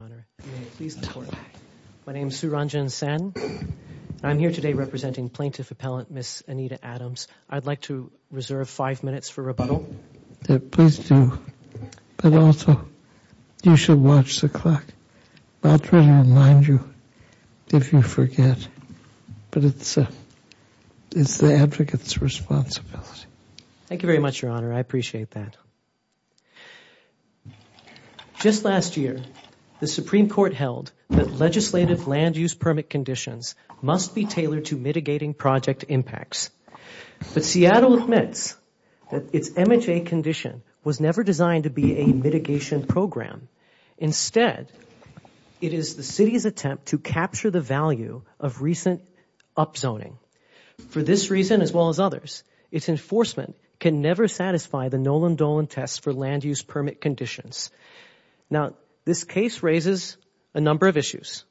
My name is Su Ranjin Sen. I'm here today representing Plaintiff Appellant Ms. Anita Adams. I'd like to reserve five minutes for rebuttal. Please do, but also you should watch the clock. I'll try to remind you if you forget, but it's the advocate's responsibility. Thank you very much, Your Honor. I appreciate that. Just last year, the Supreme Court held that legislative land use permit conditions must be tailored to mitigating project impacts. But Seattle admits that its MHA condition was never designed to be a mitigation program. Instead, it is the City's attempt to capture the value of recent upzoning. For this reason, as well as others, its enforcement can never satisfy the Nolan-Dolan tests for land use permit conditions. Now, this case raises a number of issues,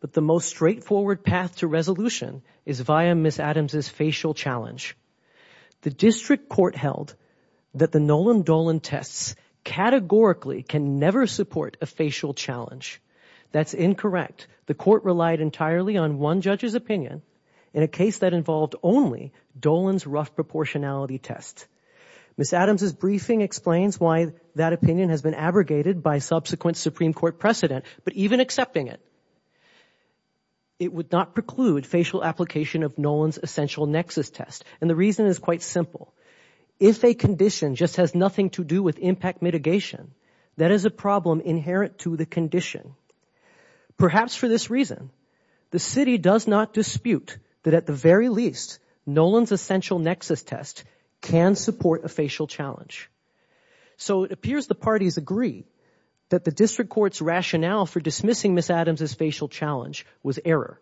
but the most straightforward path to resolution is via Ms. Adams' facial challenge. The District Court held that the Nolan-Dolan tests categorically can never support a facial challenge. That's incorrect. The Court relied entirely on one judge's opinion in a case that involved only Dolan's rough proportionality test. Ms. Adams' briefing explains why that opinion has been abrogated by subsequent Supreme Court precedent, but even accepting it, it would not preclude facial application of Nolan's essential nexus test, and the reason is quite simple. If a condition just has nothing to do with impact mitigation, that is a problem inherent to the condition. Perhaps for this reason, the City does not dispute that at the very least, Nolan's essential nexus test can support a facial challenge. So it appears the parties agree that the District Court's rationale for dismissing Ms. Adams' facial challenge was error.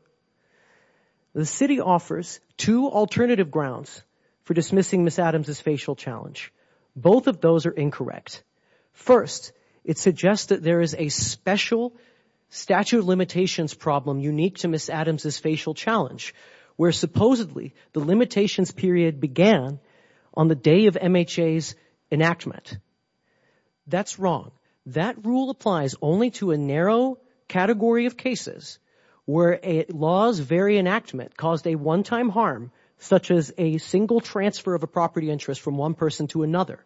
The City offers two alternative grounds for dismissing Ms. Adams' facial challenge. Both of those are incorrect. First, it suggests that there is a special statute of limitations problem unique to Ms. Adams' facial challenge, where supposedly the limitations period began on the day of MHA's enactment. That's wrong. That rule applies only to a narrow category of cases where a law's very enactment caused a one-time harm, such as a single transfer of a property interest from one person to another.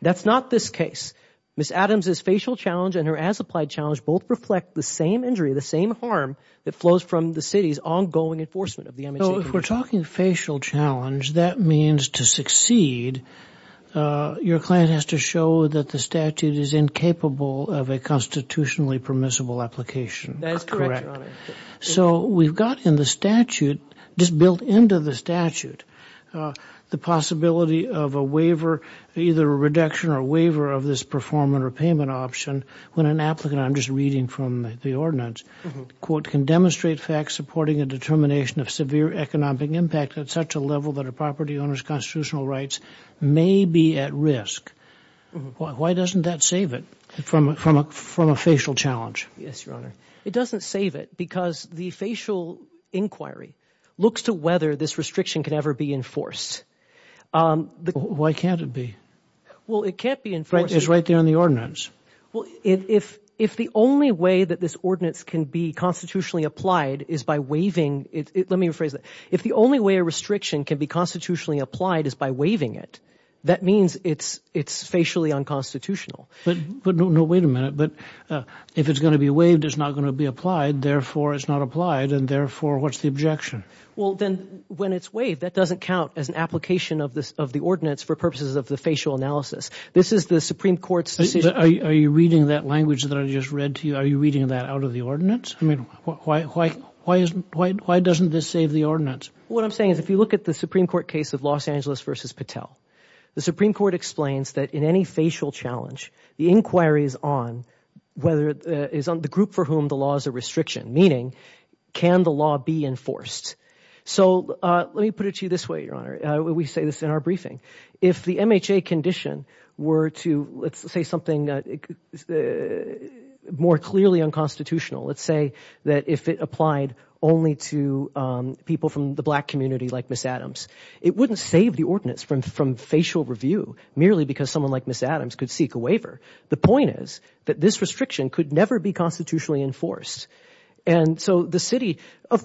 That's not this case. Ms. Adams' facial challenge and her as-applied challenge both reflect the same injury, the same harm, that flows from the City's ongoing enforcement of the MHC. So if we're talking facial challenge, that means to succeed, your client has to show that the statute is incapable of a constitutionally permissible application. That is correct, Your Honor. So we've got in the statute, just built into the statute, the possibility of a waiver, either a reduction or a waiver of this performance or payment option, when an applicant, I'm just reading from the ordinance, quote, can demonstrate facts supporting a determination of severe economic impact at such a level that a property owner's constitutional rights may be at risk. Why doesn't that save it from a facial challenge? Yes, Your Honor. It doesn't save it because the facial inquiry looks to whether this restriction can ever be enforced. Why can't it be? Well, it can't be enforced. It's right there in the ordinance. Well, if the only way that this ordinance can be constitutionally applied is by waiving, let me rephrase that. If the only way a restriction can be constitutionally applied is by waiving it, that means it's facially unconstitutional. But no, wait a minute. But if it's going to be waived, it's not going to be applied. Therefore, it's not applied. And therefore, what's the objection? Well, then when it's waived, that doesn't count as an application of the ordinance for purposes of the facial analysis. This is the Supreme Court's decision. Are you reading that language that I just read to you? Are you reading that out of the ordinance? I mean, why doesn't this save the ordinance? What I'm saying is if you look at the Supreme Court case of Los Angeles v. Patel, the Supreme Court explains that in any facial challenge, the inquiry is on the group for whom the law is a restriction, meaning can the law be enforced? So let me put it to you this way, Your Honor. We say this in our briefing. If the MHA condition were to, let's say, something more clearly unconstitutional, let's say that if it applied only to people from the black community like Ms. Adams, it wouldn't save the ordinance from facial review merely because someone like Ms. Adams could seek a waiver. The point is that this restriction could never be constitutionally enforced. And so the city,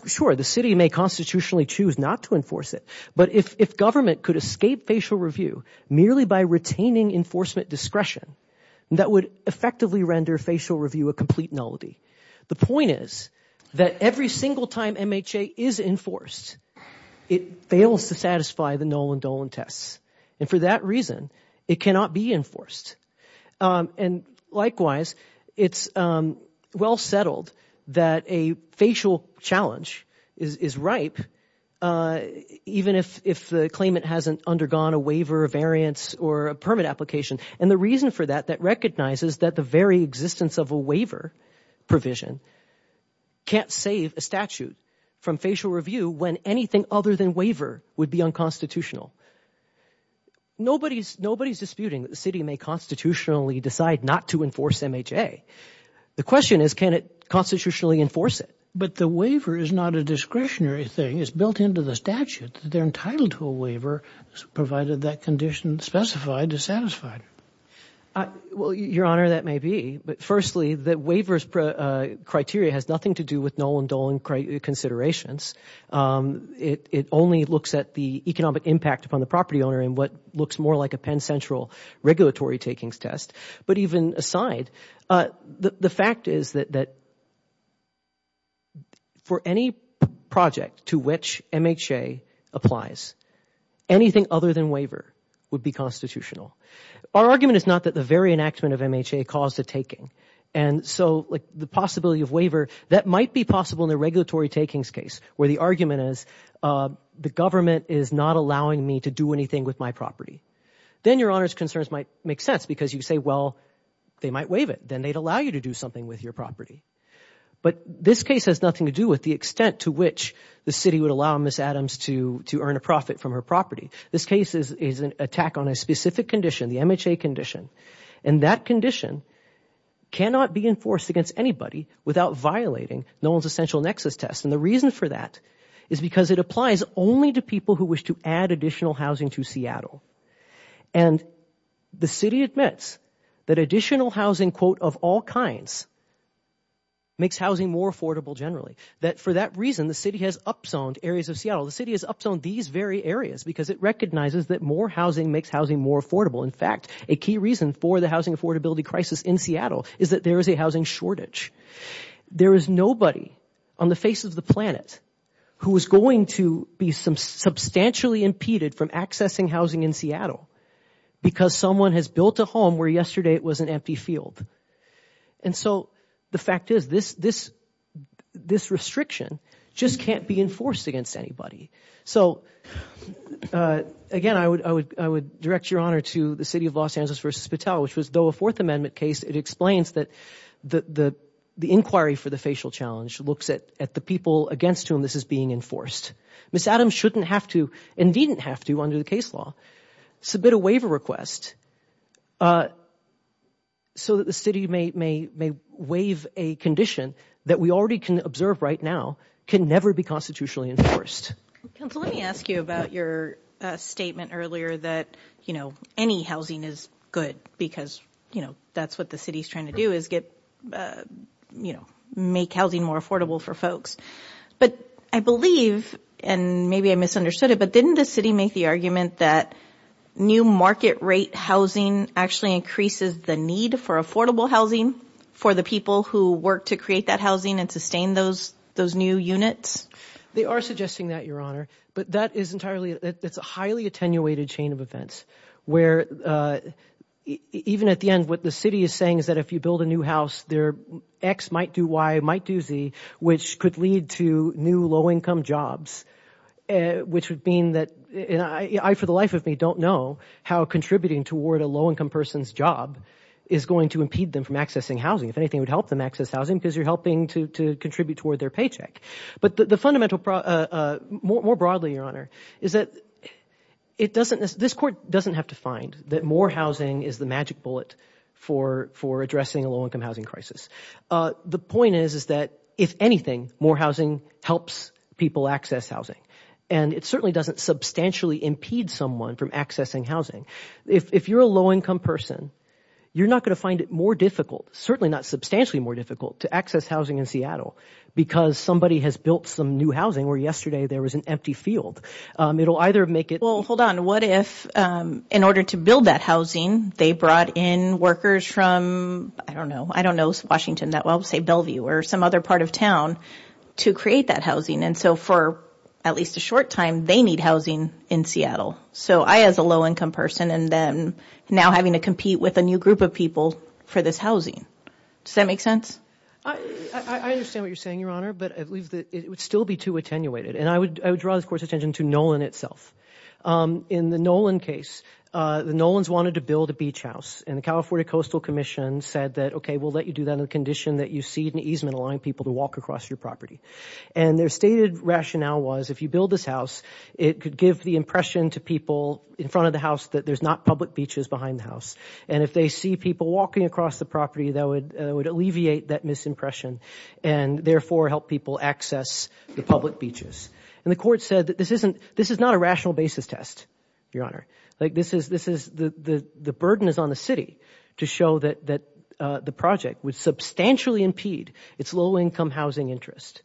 sure, the city may constitutionally choose not to enforce it. But if government could escape facial review merely by retaining enforcement discretion, that would effectively render facial review a complete nullity. The point is that every single time MHA is enforced, it fails to satisfy the Nolan-Dolan tests. And for that reason, it cannot be enforced. And likewise, it's well settled that a facial challenge is ripe, even if the claimant hasn't undergone a waiver, a variance, or a permit application. And the reason for that, that recognizes that the very existence of a waiver provision can't save a statute from facial review when anything other than waiver would be unconstitutional. Nobody's disputing that the city may constitutionally decide not to enforce MHA. The question is, can it constitutionally enforce it? But the waiver is not a discretionary thing. It's built into the statute that they're entitled to a waiver provided that condition specified is satisfied. Well, Your Honor, that may be. But firstly, the waiver's criteria has nothing to do with Nolan-Dolan considerations. It only looks at the economic impact upon the property owner in what looks more like a Penn Central regulatory takings test. But even aside, the fact is that for any project to which MHA applies, anything other than waiver would be constitutional. Our argument is not that the very enactment of MHA caused the taking. And so the possibility of waiver, that might be possible in a regulatory takings case, where the argument is the government is not allowing me to do anything with my property. Then Your Honor's concerns might make sense because you say, well, they might waive it. Then they'd allow you to do something with your property. But this case has nothing to do with the extent to which the city would allow Ms. Adams to earn a profit from her property. This case is an attack on a specific condition, the MHA condition. And that condition cannot be enforced against anybody without violating Nolan's essential nexus test. And the reason for that is because it applies only to people who wish to add additional housing to Seattle. And the city admits that additional housing, quote, of all kinds, makes housing more affordable generally. That for that reason, the city has up-zoned areas of Seattle. The city has up-zoned these very areas because it recognizes that more housing makes housing more affordable. In fact, a key reason for the housing affordability crisis in Seattle is that there is a housing shortage. There is nobody on the face of the planet who is going to be substantially impeded from accessing housing in Seattle because someone has built a home where yesterday it was an empty field. And so the fact is this restriction just can't be enforced against anybody. So, again, I would direct your honor to the city of Los Angeles v. Patel, which was, though a Fourth Amendment case, it explains that the inquiry for the facial challenge looks at the people against whom this is being enforced. Ms. Adams shouldn't have to and didn't have to, under the case law, submit a waiver request so that the city may waive a condition that we already can observe right now can never be constitutionally enforced. Counsel, let me ask you about your statement earlier that, you know, any housing is good because, you know, that's what the city is trying to do is get, you know, make housing more affordable for folks. But I believe, and maybe I misunderstood it, but didn't the city make the argument that new market rate housing actually increases the need for affordable housing for the people who work to create that housing and sustain those new units? They are suggesting that, your honor, but that is entirely it's a highly attenuated chain of events where even at the end, what the city is saying is that if you build a new house, their X might do Y might do Z, which could lead to new low income jobs, which would mean that I, for the life of me, don't know how contributing toward a low income person's job is going to impede them from accessing housing. If anything, it would help them access housing because you're helping to contribute toward their paycheck. But the fundamental, more broadly, your honor, is that it doesn't, this court doesn't have to find that more housing is the magic bullet for addressing a low income housing crisis. The point is, is that if anything, more housing helps people access housing. And it certainly doesn't substantially impede someone from accessing housing. If you're a low income person, you're not going to find it more difficult, certainly not substantially more difficult to access housing in Seattle, because somebody has built some new housing where yesterday there was an empty field. It will either make it. Well, hold on. What if in order to build that housing, they brought in workers from, I don't know, I don't know, Washington that will say Bellevue or some other part of town to create that housing. And so for at least a short time, they need housing in Seattle. So I, as a low income person, and then now having to compete with a new group of people for this housing. Does that make sense? I understand what you're saying, your honor, but I believe that it would still be too attenuated. And I would draw this court's attention to Nolan itself. In the Nolan case, the Nolans wanted to build a beach house. And the California Coastal Commission said that, okay, we'll let you do that on the condition that you see an easement allowing people to walk across your property. And their stated rationale was if you build this house, it could give the impression to people in front of the house that there's not public beaches behind the house. And if they see people walking across the property, that would alleviate that misimpression and therefore help people access the public beaches. And the court said that this is not a rational basis test, your honor. The burden is on the city to show that the project would substantially impede its low income housing interest.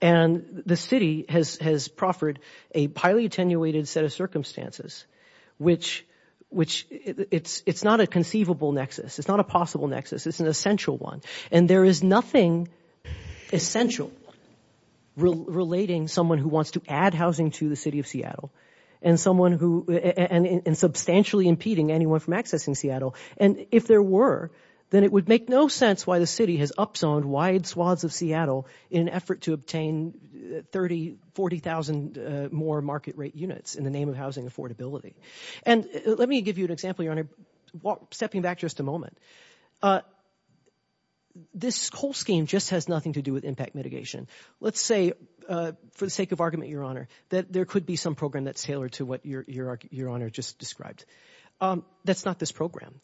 And the city has proffered a highly attenuated set of circumstances, which it's not a conceivable nexus. It's not a possible nexus. It's an essential one. And there is nothing essential relating someone who wants to add housing to the city of Seattle and substantially impeding anyone from accessing Seattle. And if there were, then it would make no sense why the city has upzoned wide swaths of Seattle in an effort to obtain 30,000, 40,000 more market rate units in the name of housing affordability. And let me give you an example, your honor. Stepping back just a moment, this whole scheme just has nothing to do with impact mitigation. Let's say, for the sake of argument, your honor, that there could be some program that's tailored to what your honor just described. That's not this program.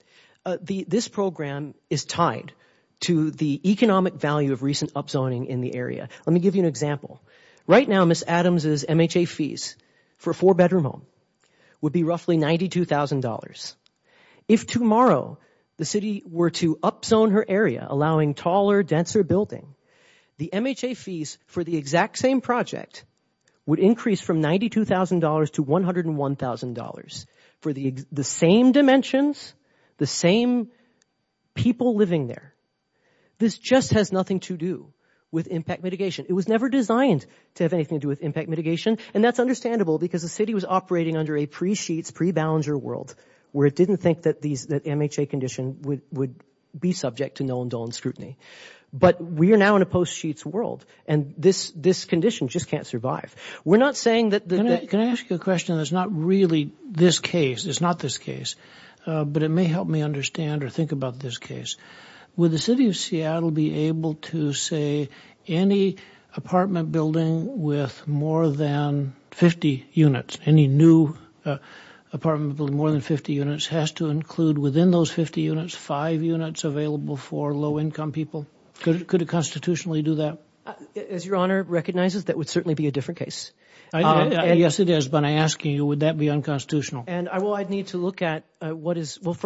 This program is tied to the economic value of recent upzoning in the area. Let me give you an example. Right now, Ms. Adams' MHA fees for a four-bedroom home would be roughly $92,000. If tomorrow the city were to upzone her area, allowing taller, denser building, the MHA fees for the exact same project would increase from $92,000 to $101,000 for the same dimensions, the same people living there. This just has nothing to do with impact mitigation. It was never designed to have anything to do with impact mitigation, and that's understandable because the city was operating under a pre-Sheetz, pre-Ballenger world where it didn't think that MHA condition would be subject to no-indulgence scrutiny. But we are now in a post-Sheetz world, and this condition just can't survive. Can I ask you a question that's not really this case? It's not this case, but it may help me understand or think about this case. Would the city of Seattle be able to say any apartment building with more than 50 units, any new apartment building with more than 50 units has to include within those 50 units five units available for low-income people? Could it constitutionally do that? As Your Honor recognizes, that would certainly be a different case. Yes, it is, but I'm asking you, would that be unconstitutional? Well, I'd need to look at what is—well,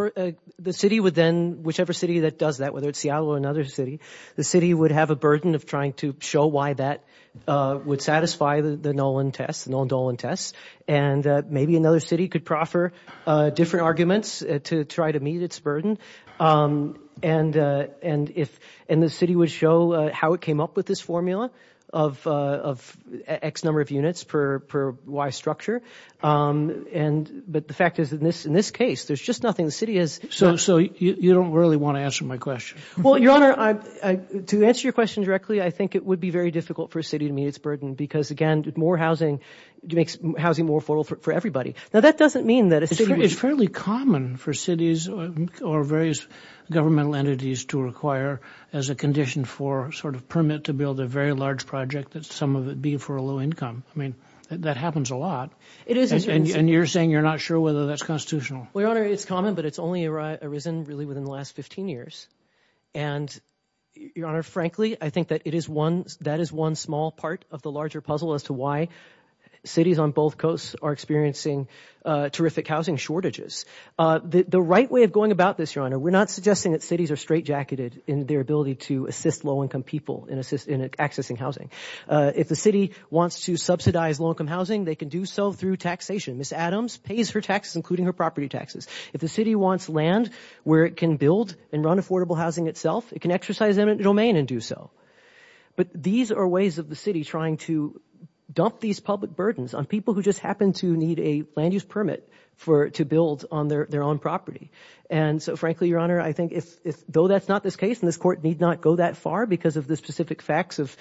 the city would then, whichever city that does that, whether it's Seattle or another city, the city would have a burden of trying to show why that would satisfy the Nolan-Dolan test, and maybe another city could proffer different arguments to try to meet its burden. And the city would show how it came up with this formula of X number of units per Y structure. But the fact is, in this case, there's just nothing. The city has— So you don't really want to answer my question? Well, Your Honor, to answer your question directly, I think it would be very difficult for a city to meet its burden because, again, more housing makes housing more affordable for everybody. Now, that doesn't mean that a city would— It's fairly common for cities or various governmental entities to require as a condition for sort of permit to build a very large project that some of it be for a low income. I mean, that happens a lot. It is— And you're saying you're not sure whether that's constitutional. Well, Your Honor, it's common, but it's only arisen really within the last 15 years. And, Your Honor, frankly, I think that it is one— that is one small part of the larger puzzle as to why cities on both coasts are experiencing terrific housing shortages. The right way of going about this, Your Honor, we're not suggesting that cities are straightjacketed in their ability to assist low income people in accessing housing. If the city wants to subsidize low income housing, they can do so through taxation. Ms. Adams pays her taxes, including her property taxes. If the city wants land where it can build and run affordable housing itself, it can exercise that domain and do so. But these are ways of the city trying to dump these public burdens on people who just happen to need a land use permit to build on their own property. And so, frankly, Your Honor, I think though that's not this case, and this court need not go that far because of the specific facts of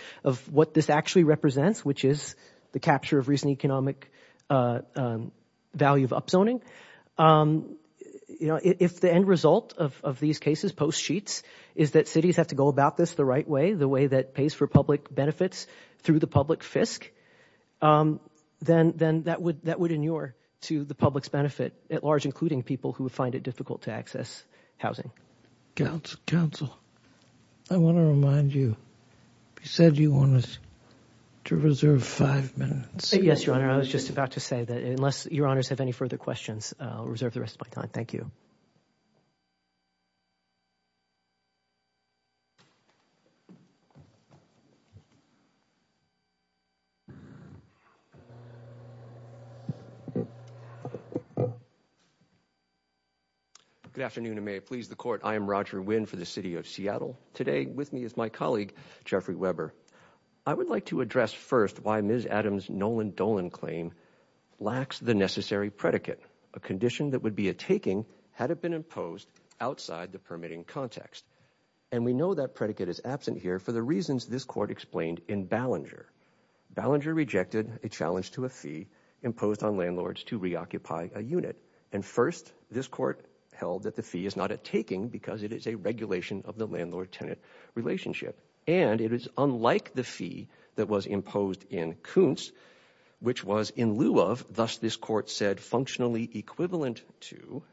what this actually represents, which is the capture of recent economic value of upzoning. You know, if the end result of these cases, post sheets, is that cities have to go about this the right way, the way that pays for public benefits through the public fisc, then that would inure to the public's benefit at large, including people who find it difficult to access housing. Counsel, I want to remind you. You said you wanted to reserve five minutes. Yes, Your Honor. I was just about to say that unless Your Honors have any further questions, I'll reserve the rest of my time. Thank you. Good afternoon, and may it please the court. I am Roger Winn for the city of Seattle. Today with me is my colleague, Jeffrey Weber. I would like to address first why Ms. Adams' Nolan Dolan claim lacks the necessary predicate, a condition that would be a taking had it been imposed on the city of Seattle outside the permitting context. And we know that predicate is absent here for the reasons this court explained in Ballinger. Ballinger rejected a challenge to a fee imposed on landlords to reoccupy a unit. And first, this court held that the fee is not a taking because it is a regulation of the landlord-tenant relationship. And it is unlike the fee that was imposed in Kuntz, which was in lieu of, thus this court said, functionally equivalent to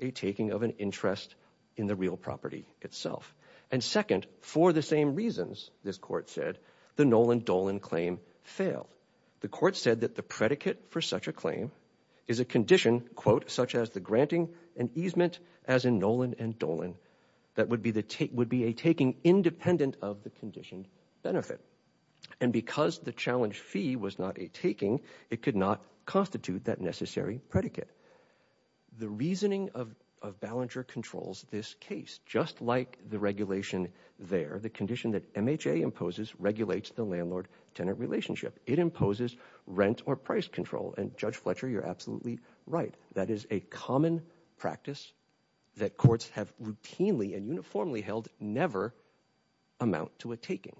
a taking of an interest in the real property itself. And second, for the same reasons, this court said, the Nolan Dolan claim failed. The court said that the predicate for such a claim is a condition, quote, such as the granting and easement as in Nolan and Dolan, that would be a taking independent of the conditioned benefit. And because the challenge fee was not a taking, it could not constitute that necessary predicate. The reasoning of Ballinger controls this case, just like the regulation there, the condition that MHA imposes regulates the landlord-tenant relationship. It imposes rent or price control, and Judge Fletcher, you're absolutely right. That is a common practice that courts have routinely and uniformly held never amount to a taking.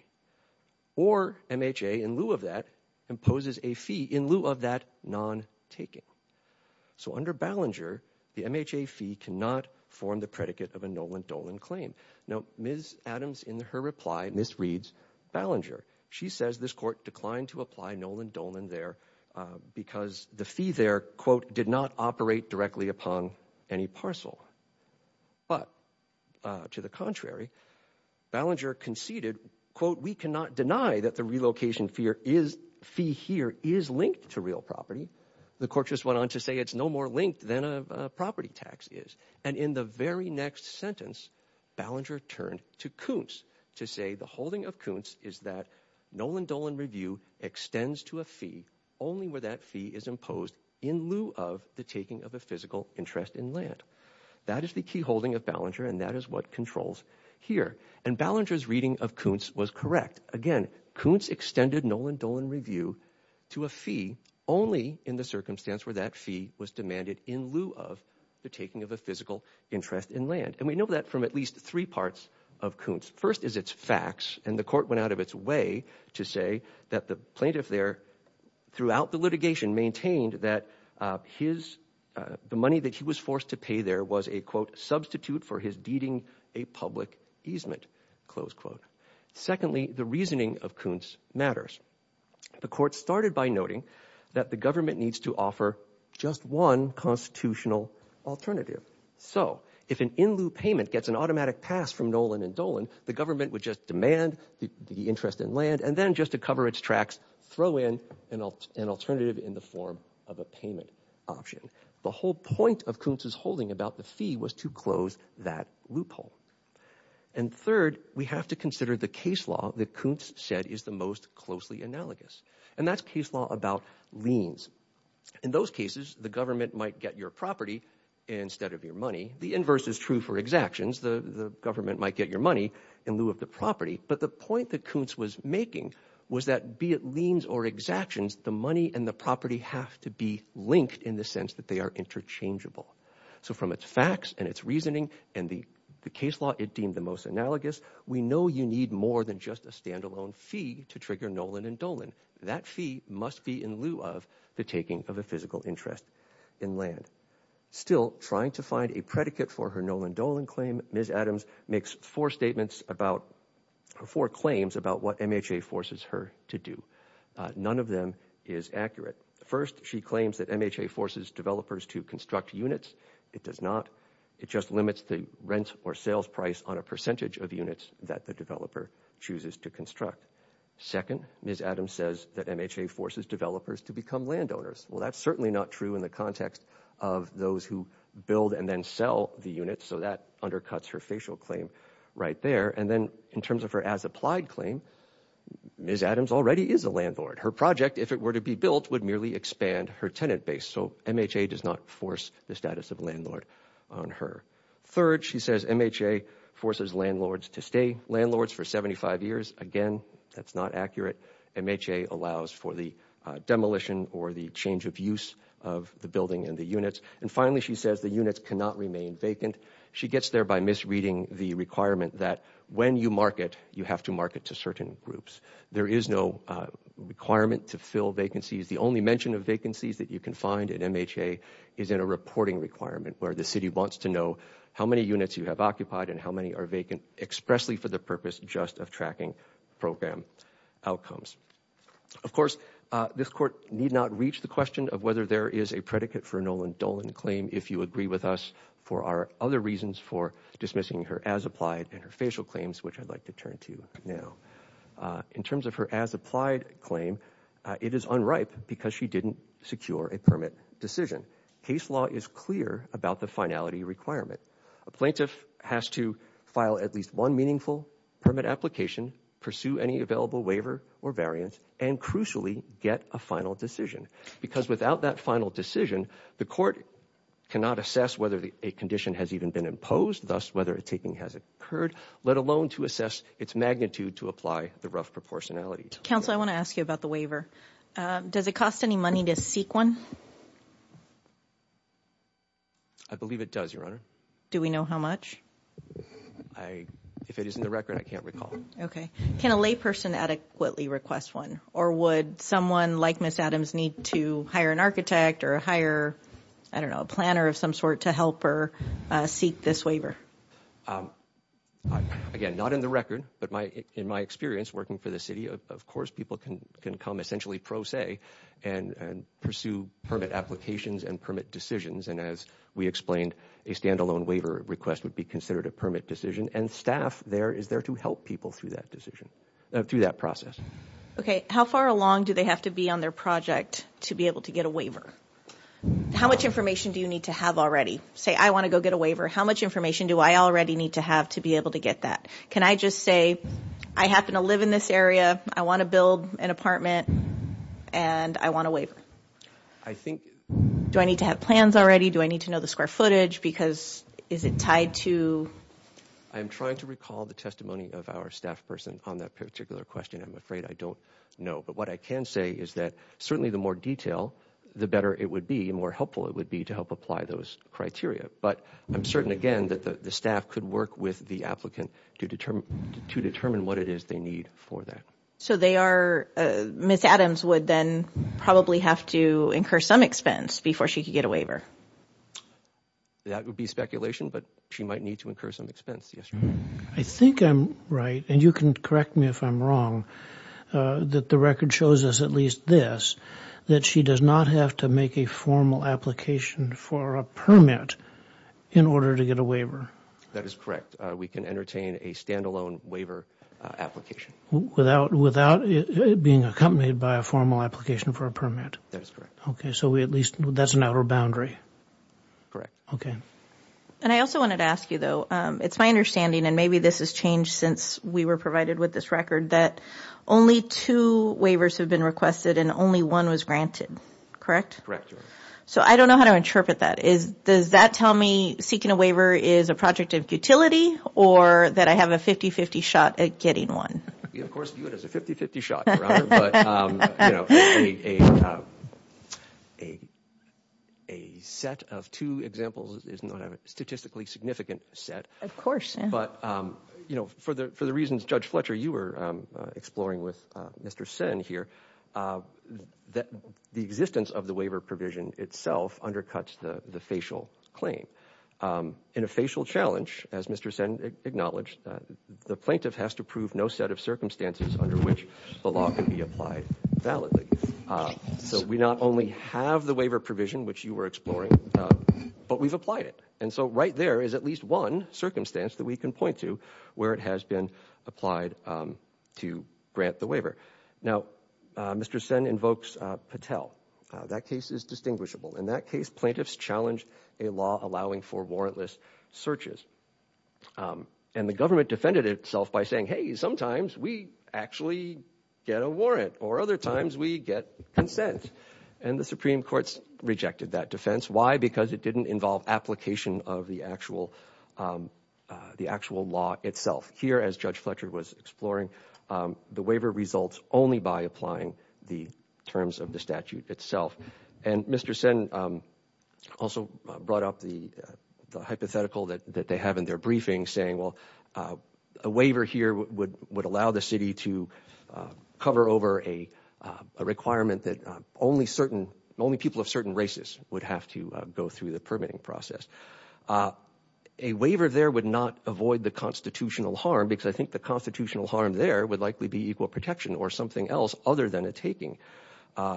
Or MHA, in lieu of that, imposes a fee in lieu of that non-taking. So under Ballinger, the MHA fee cannot form the predicate of a Nolan Dolan claim. Now, Ms. Adams, in her reply, misreads Ballinger. She says this court declined to apply Nolan Dolan there because the fee there, quote, did not operate directly upon any parcel. But to the contrary, Ballinger conceded, quote, we cannot deny that the relocation fee here is linked to real property. The court just went on to say it's no more linked than a property tax is. And in the very next sentence, Ballinger turned to Kuntz to say the holding of Kuntz is that Nolan Dolan review extends to a fee only where that fee is imposed in lieu of the taking of a physical interest in land. That is the key holding of Ballinger, and that is what controls here. And Ballinger's reading of Kuntz was correct. Again, Kuntz extended Nolan Dolan review to a fee only in the circumstance where that fee was demanded in lieu of the taking of a physical interest in land. And we know that from at least three parts of Kuntz. First is its facts. And the court went out of its way to say that the plaintiff there throughout the litigation maintained that the money that he was forced to pay there was a, quote, substitute for his deeding a public easement, close quote. Secondly, the reasoning of Kuntz matters. The court started by noting that the government needs to offer just one constitutional alternative. So if an in lieu payment gets an automatic pass from Nolan and Dolan, the government would just demand the interest in land and then just to cover its tracks, throw in an alternative in the form of a payment option. The whole point of Kuntz's holding about the fee was to close that loophole. And third, we have to consider the case law that Kuntz said is the most closely analogous. And that's case law about liens. In those cases, the government might get your property instead of your money. The inverse is true for exactions. The government might get your money in lieu of the property. But the point that Kuntz was making was that be it liens or exactions, the money and the property have to be linked in the sense that they are interchangeable. So from its facts and its reasoning and the case law it deemed the most analogous, we know you need more than just a standalone fee to trigger Nolan and Dolan. That fee must be in lieu of the taking of a physical interest in land. Still, trying to find a predicate for her Nolan-Dolan claim, Ms. Adams makes four claims about what MHA forces her to do. None of them is accurate. First, she claims that MHA forces developers to construct units. It does not. It just limits the rent or sales price on a percentage of units that the developer chooses to construct. Second, Ms. Adams says that MHA forces developers to become landowners. Well, that's certainly not true in the context of those who build and then sell the units. So that undercuts her facial claim right there. And then in terms of her as-applied claim, Ms. Adams already is a landlord. Her project, if it were to be built, would merely expand her tenant base. So MHA does not force the status of landlord on her. Third, she says MHA forces landlords to stay landlords for 75 years. Again, that's not accurate. MHA allows for the demolition or the change of use of the building and the units. And finally, she says the units cannot remain vacant. She gets there by misreading the requirement that when you market, you have to market to certain groups. There is no requirement to fill vacancies. The only mention of vacancies that you can find in MHA is in a reporting requirement where the city wants to know how many units you have occupied and how many are vacant expressly for the purpose just of tracking program outcomes. Of course, this Court need not reach the question of whether there is a predicate for a Nolan Dolan claim if you agree with us for our other reasons for dismissing her as-applied and her facial claims, which I'd like to turn to now. In terms of her as-applied claim, it is unripe because she didn't secure a permit decision. Case law is clear about the finality requirement. A plaintiff has to file at least one meaningful permit application, pursue any available waiver or variance, and crucially, get a final decision. Because without that final decision, the Court cannot assess whether a condition has even been imposed, thus whether a taking has occurred, let alone to assess its magnitude to apply the rough proportionality. Counsel, I want to ask you about the waiver. Does it cost any money to seek one? I believe it does, Your Honor. Do we know how much? If it is in the record, I can't recall. Can a layperson adequately request one, or would someone like Ms. Adams need to hire an architect or hire, I don't know, a planner of some sort to help her seek this waiver? Again, not in the record, but in my experience working for the city, of course people can come essentially pro se and pursue permit applications and permit decisions. And as we explained, a standalone waiver request would be considered a permit decision, and staff there is there to help people through that decision, through that process. Okay, how far along do they have to be on their project to be able to get a waiver? How much information do you need to have already? Say I want to go get a waiver, how much information do I already need to have to be able to get that? Can I just say I happen to live in this area, I want to build an apartment, and I want a waiver? Do I need to have plans already? Do I need to know the square footage? Because is it tied to? I'm trying to recall the testimony of our staff person on that particular question. I'm afraid I don't know. But what I can say is that certainly the more detail, the better it would be, the more helpful it would be to help apply those criteria. But I'm certain, again, that the staff could work with the applicant to determine what it is they need for that. So Ms. Adams would then probably have to incur some expense before she could get a waiver? That would be speculation, but she might need to incur some expense, yes. I think I'm right, and you can correct me if I'm wrong, that the record shows us at least this, that she does not have to make a formal application for a permit in order to get a waiver. That is correct. We can entertain a stand-alone waiver application. Without being accompanied by a formal application for a permit? That is correct. Okay, so at least that's an outer boundary? Correct. Okay. And I also wanted to ask you, though, it's my understanding, and maybe this has changed since we were provided with this record, that only two waivers have been requested and only one was granted, correct? Correct. So I don't know how to interpret that. Does that tell me seeking a waiver is a project of futility or that I have a 50-50 shot at getting one? Of course, view it as a 50-50 shot, Your Honor, but, you know, a set of two examples is not a statistically significant set. Of course. But, you know, for the reasons Judge Fletcher, you were exploring with Mr. Senn here, the existence of the waiver provision itself undercuts the facial claim. In a facial challenge, as Mr. Senn acknowledged, the plaintiff has to prove no set of circumstances under which the law can be applied validly. So we not only have the waiver provision, which you were exploring, but we've applied it. And so right there is at least one circumstance that we can point to where it has been applied to grant the waiver. Now, Mr. Senn invokes Patel. That case is distinguishable. In that case, plaintiffs challenge a law allowing for warrantless searches. And the government defended itself by saying, hey, sometimes we actually get a warrant or other times we get consent. And the Supreme Court rejected that defense. Why? Because it didn't involve application of the actual law itself. Here, as Judge Fletcher was exploring, the waiver results only by applying the terms of the statute itself. And Mr. Senn also brought up the hypothetical that they have in their briefing, saying, well, a waiver here would allow the city to cover over a requirement that only certain, only people of certain races would have to go through the permitting process. A waiver there would not avoid the constitutional harm, because I think the constitutional harm there would likely be equal protection or something else other than a taking.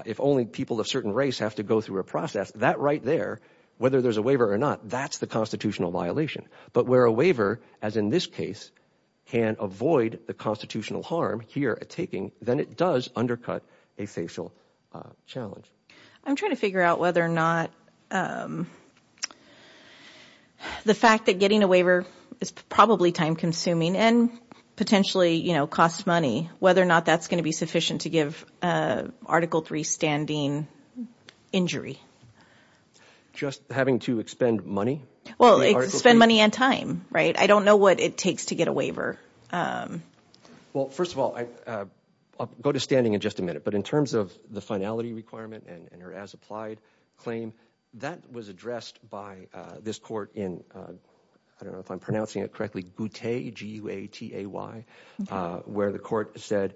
If only people of certain race have to go through a process, that right there, whether there's a waiver or not, that's the constitutional violation. But where a waiver, as in this case, can avoid the constitutional harm here, a taking, then it does undercut a facial challenge. I'm trying to figure out whether or not the fact that getting a waiver is probably time consuming and potentially costs money, whether or not that's going to be sufficient to give Article III standing injury. Just having to expend money? Well, expend money and time, right? I don't know what it takes to get a waiver. Well, first of all, I'll go to standing in just a minute, but in terms of the finality requirement and your as-applied claim, that was addressed by this court in, I don't know if I'm pronouncing it correctly, G-U-A-T-A-Y, where the court said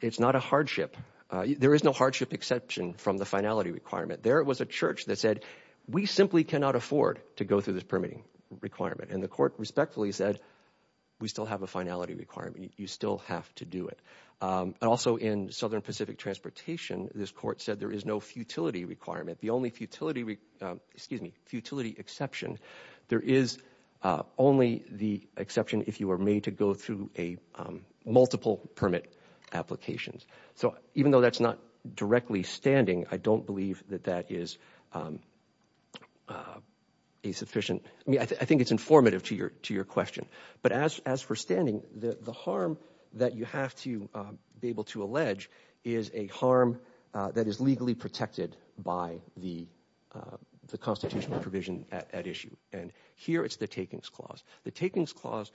it's not a hardship. There is no hardship exception from the finality requirement. There was a church that said we simply cannot afford to go through this permitting requirement, and the court respectfully said we still have a finality requirement. You still have to do it. Also, in Southern Pacific Transportation, this court said there is no futility requirement. The only futility exception, there is only the exception if you are made to go through multiple permit applications. So even though that's not directly standing, I don't believe that that is a sufficient – I mean, I think it's informative to your question. But as for standing, the harm that you have to be able to allege is a harm that is legally protected by the constitutional provision at issue, and here it's the takings clause. The takings clause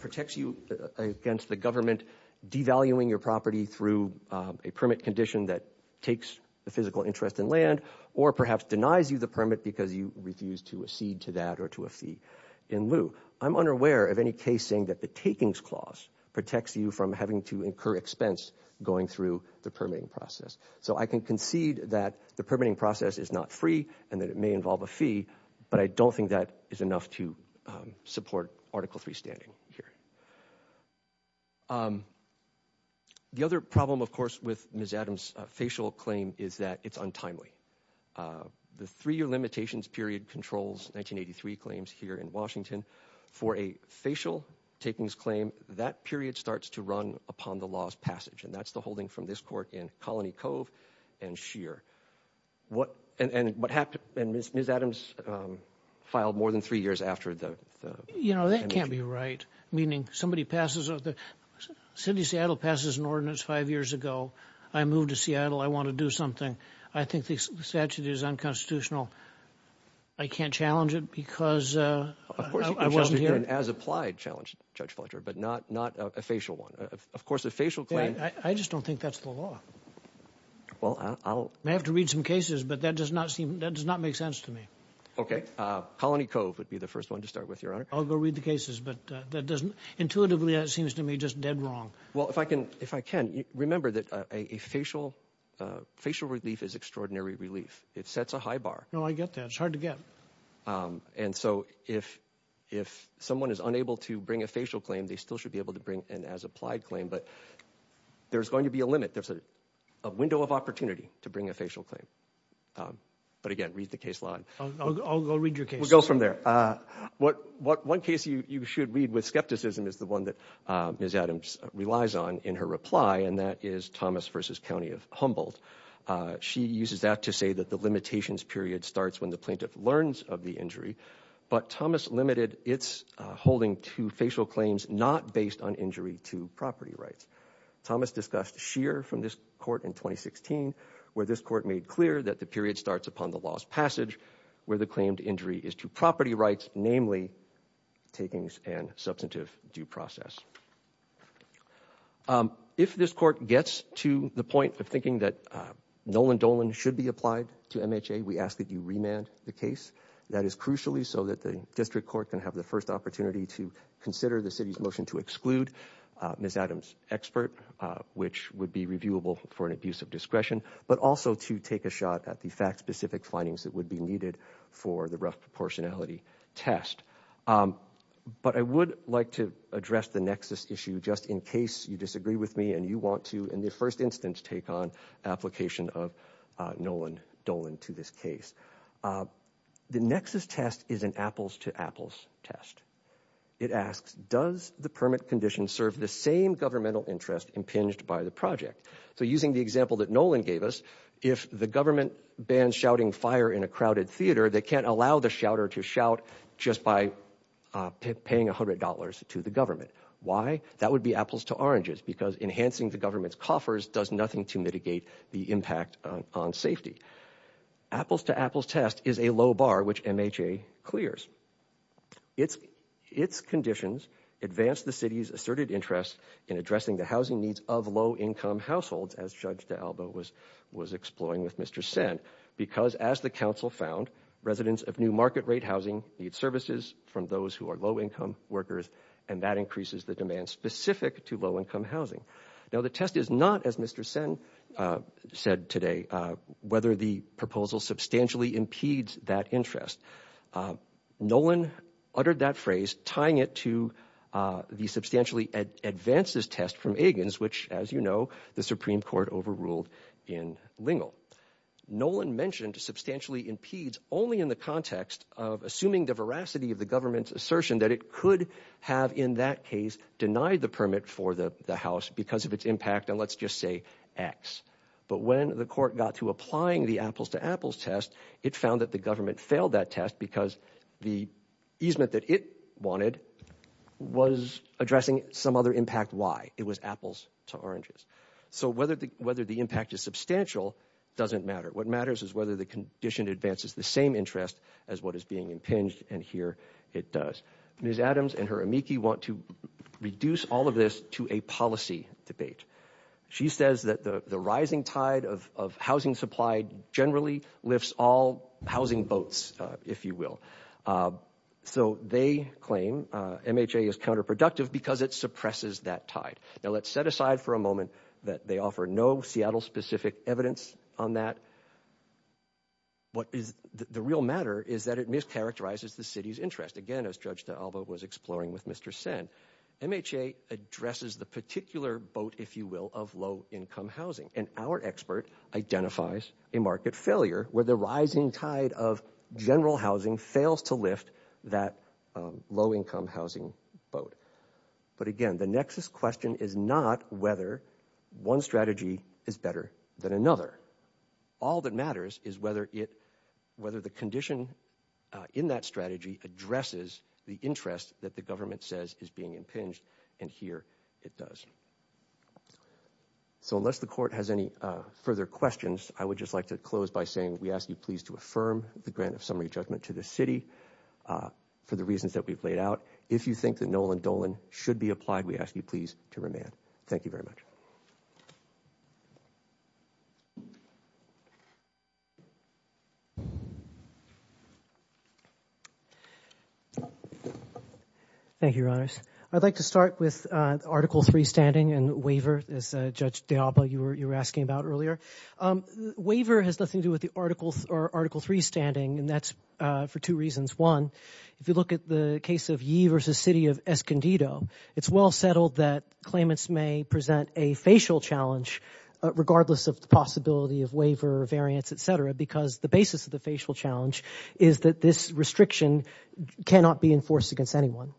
protects you against the government devaluing your property through a permit condition that takes the physical interest in land or perhaps denies you the permit because you refuse to accede to that or to a fee in lieu. I'm unaware of any case saying that the takings clause protects you from having to incur expense going through the permitting process. So I can concede that the permitting process is not free and that it may involve a fee, but I don't think that is enough to support Article III standing here. The other problem, of course, with Ms. Adams' facial claim is that it's untimely. The three-year limitations period controls 1983 claims here in Washington. For a facial takings claim, that period starts to run upon the law's passage, and that's the holding from this court in Colony Cove and Shear. And Ms. Adams filed more than three years after the— You know, that can't be right, meaning somebody passes— City of Seattle passes an ordinance five years ago. I moved to Seattle. I want to do something. I think the statute is unconstitutional. I can't challenge it because I wasn't here. Of course, you can challenge it as applied, Judge Fletcher, but not a facial one. Of course, a facial claim— I just don't think that's the law. I may have to read some cases, but that does not make sense to me. Okay. Colony Cove would be the first one to start with, Your Honor. I'll go read the cases, but that doesn't—intuitively, that seems to me just dead wrong. Well, if I can, remember that a facial relief is extraordinary relief. It sets a high bar. No, I get that. It's hard to get. And so if someone is unable to bring a facial claim, they still should be able to bring an as-applied claim, but there's going to be a limit. There's a window of opportunity to bring a facial claim. But again, read the case law. I'll go read your case. We'll go from there. One case you should read with skepticism is the one that Ms. Adams relies on in her reply, and that is Thomas v. County of Humboldt. She uses that to say that the limitations period starts when the plaintiff learns of the injury, but Thomas limited its holding to facial claims not based on injury to property rights. Thomas discussed Scheer from this court in 2016, where this court made clear that the period starts upon the law's passage, where the claimed injury is to property rights, namely takings and substantive due process. If this court gets to the point of thinking that Nolan Dolan should be applied to MHA, we ask that you remand the case. That is crucially so that the district court can have the first opportunity to consider the city's motion to exclude Ms. Adams' expert, which would be reviewable for an abuse of discretion, but also to take a shot at the fact-specific findings that would be needed for the rough proportionality test. But I would like to address the nexus issue just in case you disagree with me and you want to, in the first instance, take on application of Nolan Dolan to this case. The nexus test is an apples-to-apples test. It asks, does the permit condition serve the same governmental interest impinged by the project? So using the example that Nolan gave us, if the government bans shouting fire in a crowded theater, they can't allow the shouter to shout just by paying $100 to the government. Why? That would be apples to oranges because enhancing the government's coffers does nothing to mitigate the impact on safety. Apples-to-apples test is a low bar which MHA clears. Its conditions advance the city's asserted interest in addressing the housing needs of low-income households, as Judge D'Alba was exploring with Mr. Sen, because, as the council found, residents of new market-rate housing need services from those who are low-income workers, and that increases the demand specific to low-income housing. Now, the test is not, as Mr. Sen said today, whether the proposal substantially impedes that interest. Nolan uttered that phrase, tying it to the substantially advances test from Egan's, which, as you know, the Supreme Court overruled in Lingle. Nolan mentioned substantially impedes only in the context of assuming the veracity of the government's assertion that it could have, in that case, denied the permit for the house because of its impact on, let's just say, X. But when the court got to applying the apples-to-apples test, it found that the government failed that test because the easement that it wanted was addressing some other impact Y. It was apples to oranges. So whether the impact is substantial doesn't matter. What matters is whether the condition advances the same interest as what is being impinged, and here it does. Ms. Adams and her amici want to reduce all of this to a policy debate. She says that the rising tide of housing supply generally lifts all housing boats, if you will. So they claim MHA is counterproductive because it suppresses that tide. Now, let's set aside for a moment that they offer no Seattle-specific evidence on that. The real matter is that it mischaracterizes the city's interest. Again, as Judge D'Alba was exploring with Mr. Sen, MHA addresses the particular boat, if you will, of low-income housing, and our expert identifies a market failure where the rising tide of general housing fails to lift that low-income housing boat. But again, the nexus question is not whether one strategy is better than another. All that matters is whether the condition in that strategy addresses the interest that the government says is being impinged, and here it does. So unless the court has any further questions, I would just like to close by saying we ask you please to affirm the grant of summary judgment to the city for the reasons that we've laid out. If you think that Nolan Dolan should be applied, we ask you please to remand. Thank you very much. Thank you, Your Honors. I'd like to start with Article III standing and waiver, as Judge D'Alba, you were asking about earlier. Waiver has nothing to do with Article III standing, and that's for two reasons. One, if you look at the case of Yee v. City of Escondido, it's well settled that claimants may present a facial challenge regardless of the possibility of waiver, variance, et cetera, because the basis of the facial challenge is that this restriction cannot be enforced against anyone.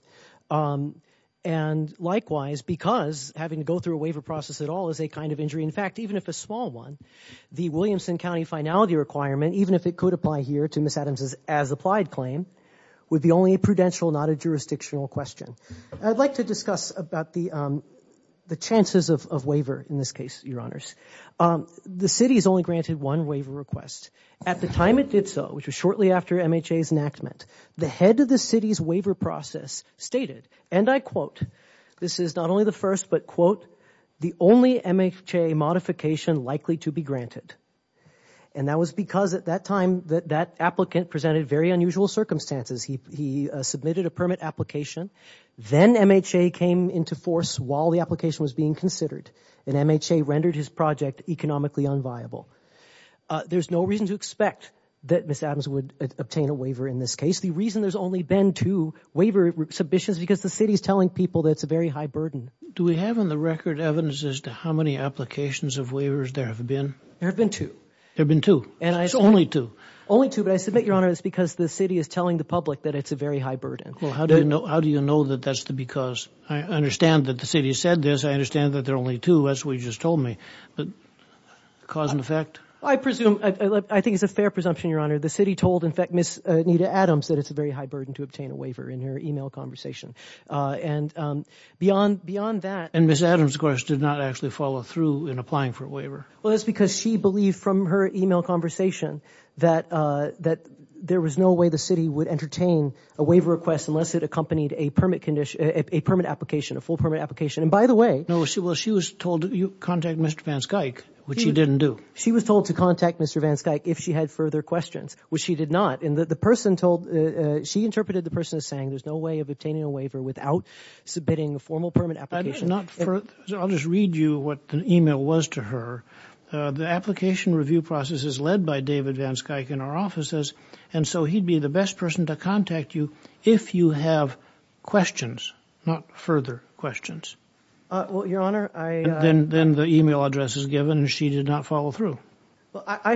And likewise, because having to go through a waiver process at all is a kind of injury, in fact, even if a small one, the Williamson County finality requirement, even if it could apply here to Ms. Adams' as-applied claim, would be only a prudential, not a jurisdictional question. I'd like to discuss about the chances of waiver in this case, Your Honors. The city is only granted one waiver request. At the time it did so, which was shortly after MHA's enactment, the head of the city's waiver process stated, and I quote, this is not only the first, but quote, the only MHA modification likely to be granted. And that was because at that time that that applicant presented very unusual circumstances. He submitted a permit application. Then MHA came into force while the application was being considered, and MHA rendered his project economically unviable. There's no reason to expect that Ms. Adams would obtain a waiver in this case. The reason there's only been two waiver submissions is because the city is telling people that it's a very high burden. Do we have on the record evidence as to how many applications of waivers there have been? There have been two. There have been two. Only two. Only two, but I submit, Your Honor, it's because the city is telling the public that it's a very high burden. How do you know that that's the because? I understand that the city said this. I understand that there are only two. That's what you just told me. But cause and effect? I presume. I think it's a fair presumption, Your Honor. The city told, in fact, Ms. Anita Adams that it's a very high burden to obtain a waiver in her e-mail conversation. And beyond that. And Ms. Adams, of course, did not actually follow through in applying for a waiver. Well, that's because she believed from her e-mail conversation that there was no way the city would entertain a waiver request unless it accompanied a permit application, a full permit application. And by the way. Well, she was told to contact Mr. Van Skuyk, which she didn't do. She was told to contact Mr. Van Skuyk if she had further questions, which she did not. And the person told, she interpreted the person as saying there's no way of obtaining a waiver without submitting a formal permit application. I'll just read you what the e-mail was to her. The application review process is led by David Van Skuyk in our offices. And so he'd be the best person to contact you if you have questions, not further questions. Well, Your Honor, I... Well, I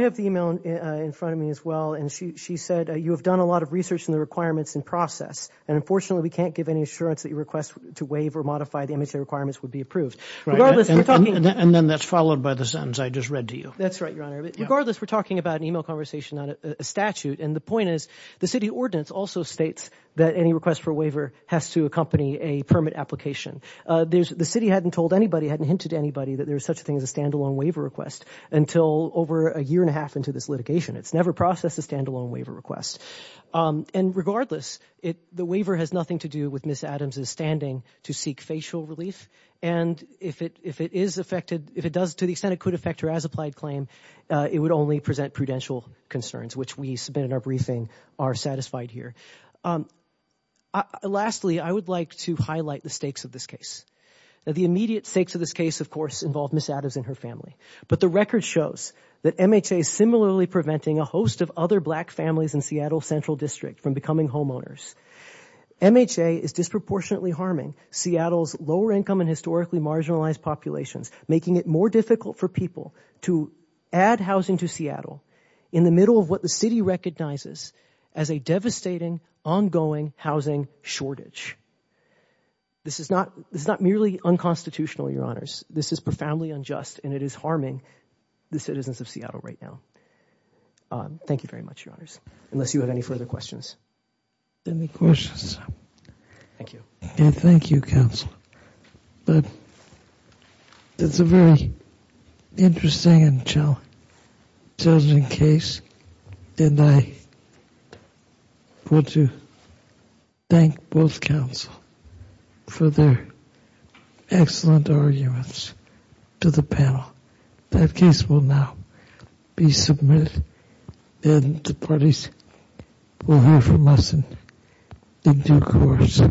have the e-mail in front of me as well. And she said you have done a lot of research in the requirements and process. And unfortunately, we can't give any assurance that your request to waive or modify the MHA requirements would be approved. And then that's followed by the sentence I just read to you. That's right, Your Honor. Regardless, we're talking about an e-mail conversation, not a statute. And the point is the city ordinance also states that any request for a waiver has to accompany a permit application. The city hadn't told anybody, hadn't hinted to anybody that there was such a thing as a stand-alone waiver request until over a year and a half into this litigation. It's never processed a stand-alone waiver request. And regardless, the waiver has nothing to do with Ms. Adams' standing to seek facial relief. And if it is affected, if it does to the extent it could affect her as-applied claim, it would only present prudential concerns, which we submit in our briefing are satisfied here. Lastly, I would like to highlight the stakes of this case. Now, the immediate stakes of this case, of course, involve Ms. Adams and her family. But the record shows that MHA is similarly preventing a host of other black families in Seattle Central District from becoming homeowners. MHA is disproportionately harming Seattle's lower-income and historically marginalized populations, making it more difficult for people to add housing to Seattle in the middle of what the city recognizes as a devastating, ongoing housing shortage. This is not merely unconstitutional, Your Honors. This is profoundly unjust, and it is harming the citizens of Seattle right now. Thank you very much, Your Honors, unless you have any further questions. Any questions? Thank you. And thank you, Counsel. But it's a very interesting and challenging case, and I want to thank both counsel for their excellent arguments to the panel. That case will now be submitted, and the parties will hear from us in due course.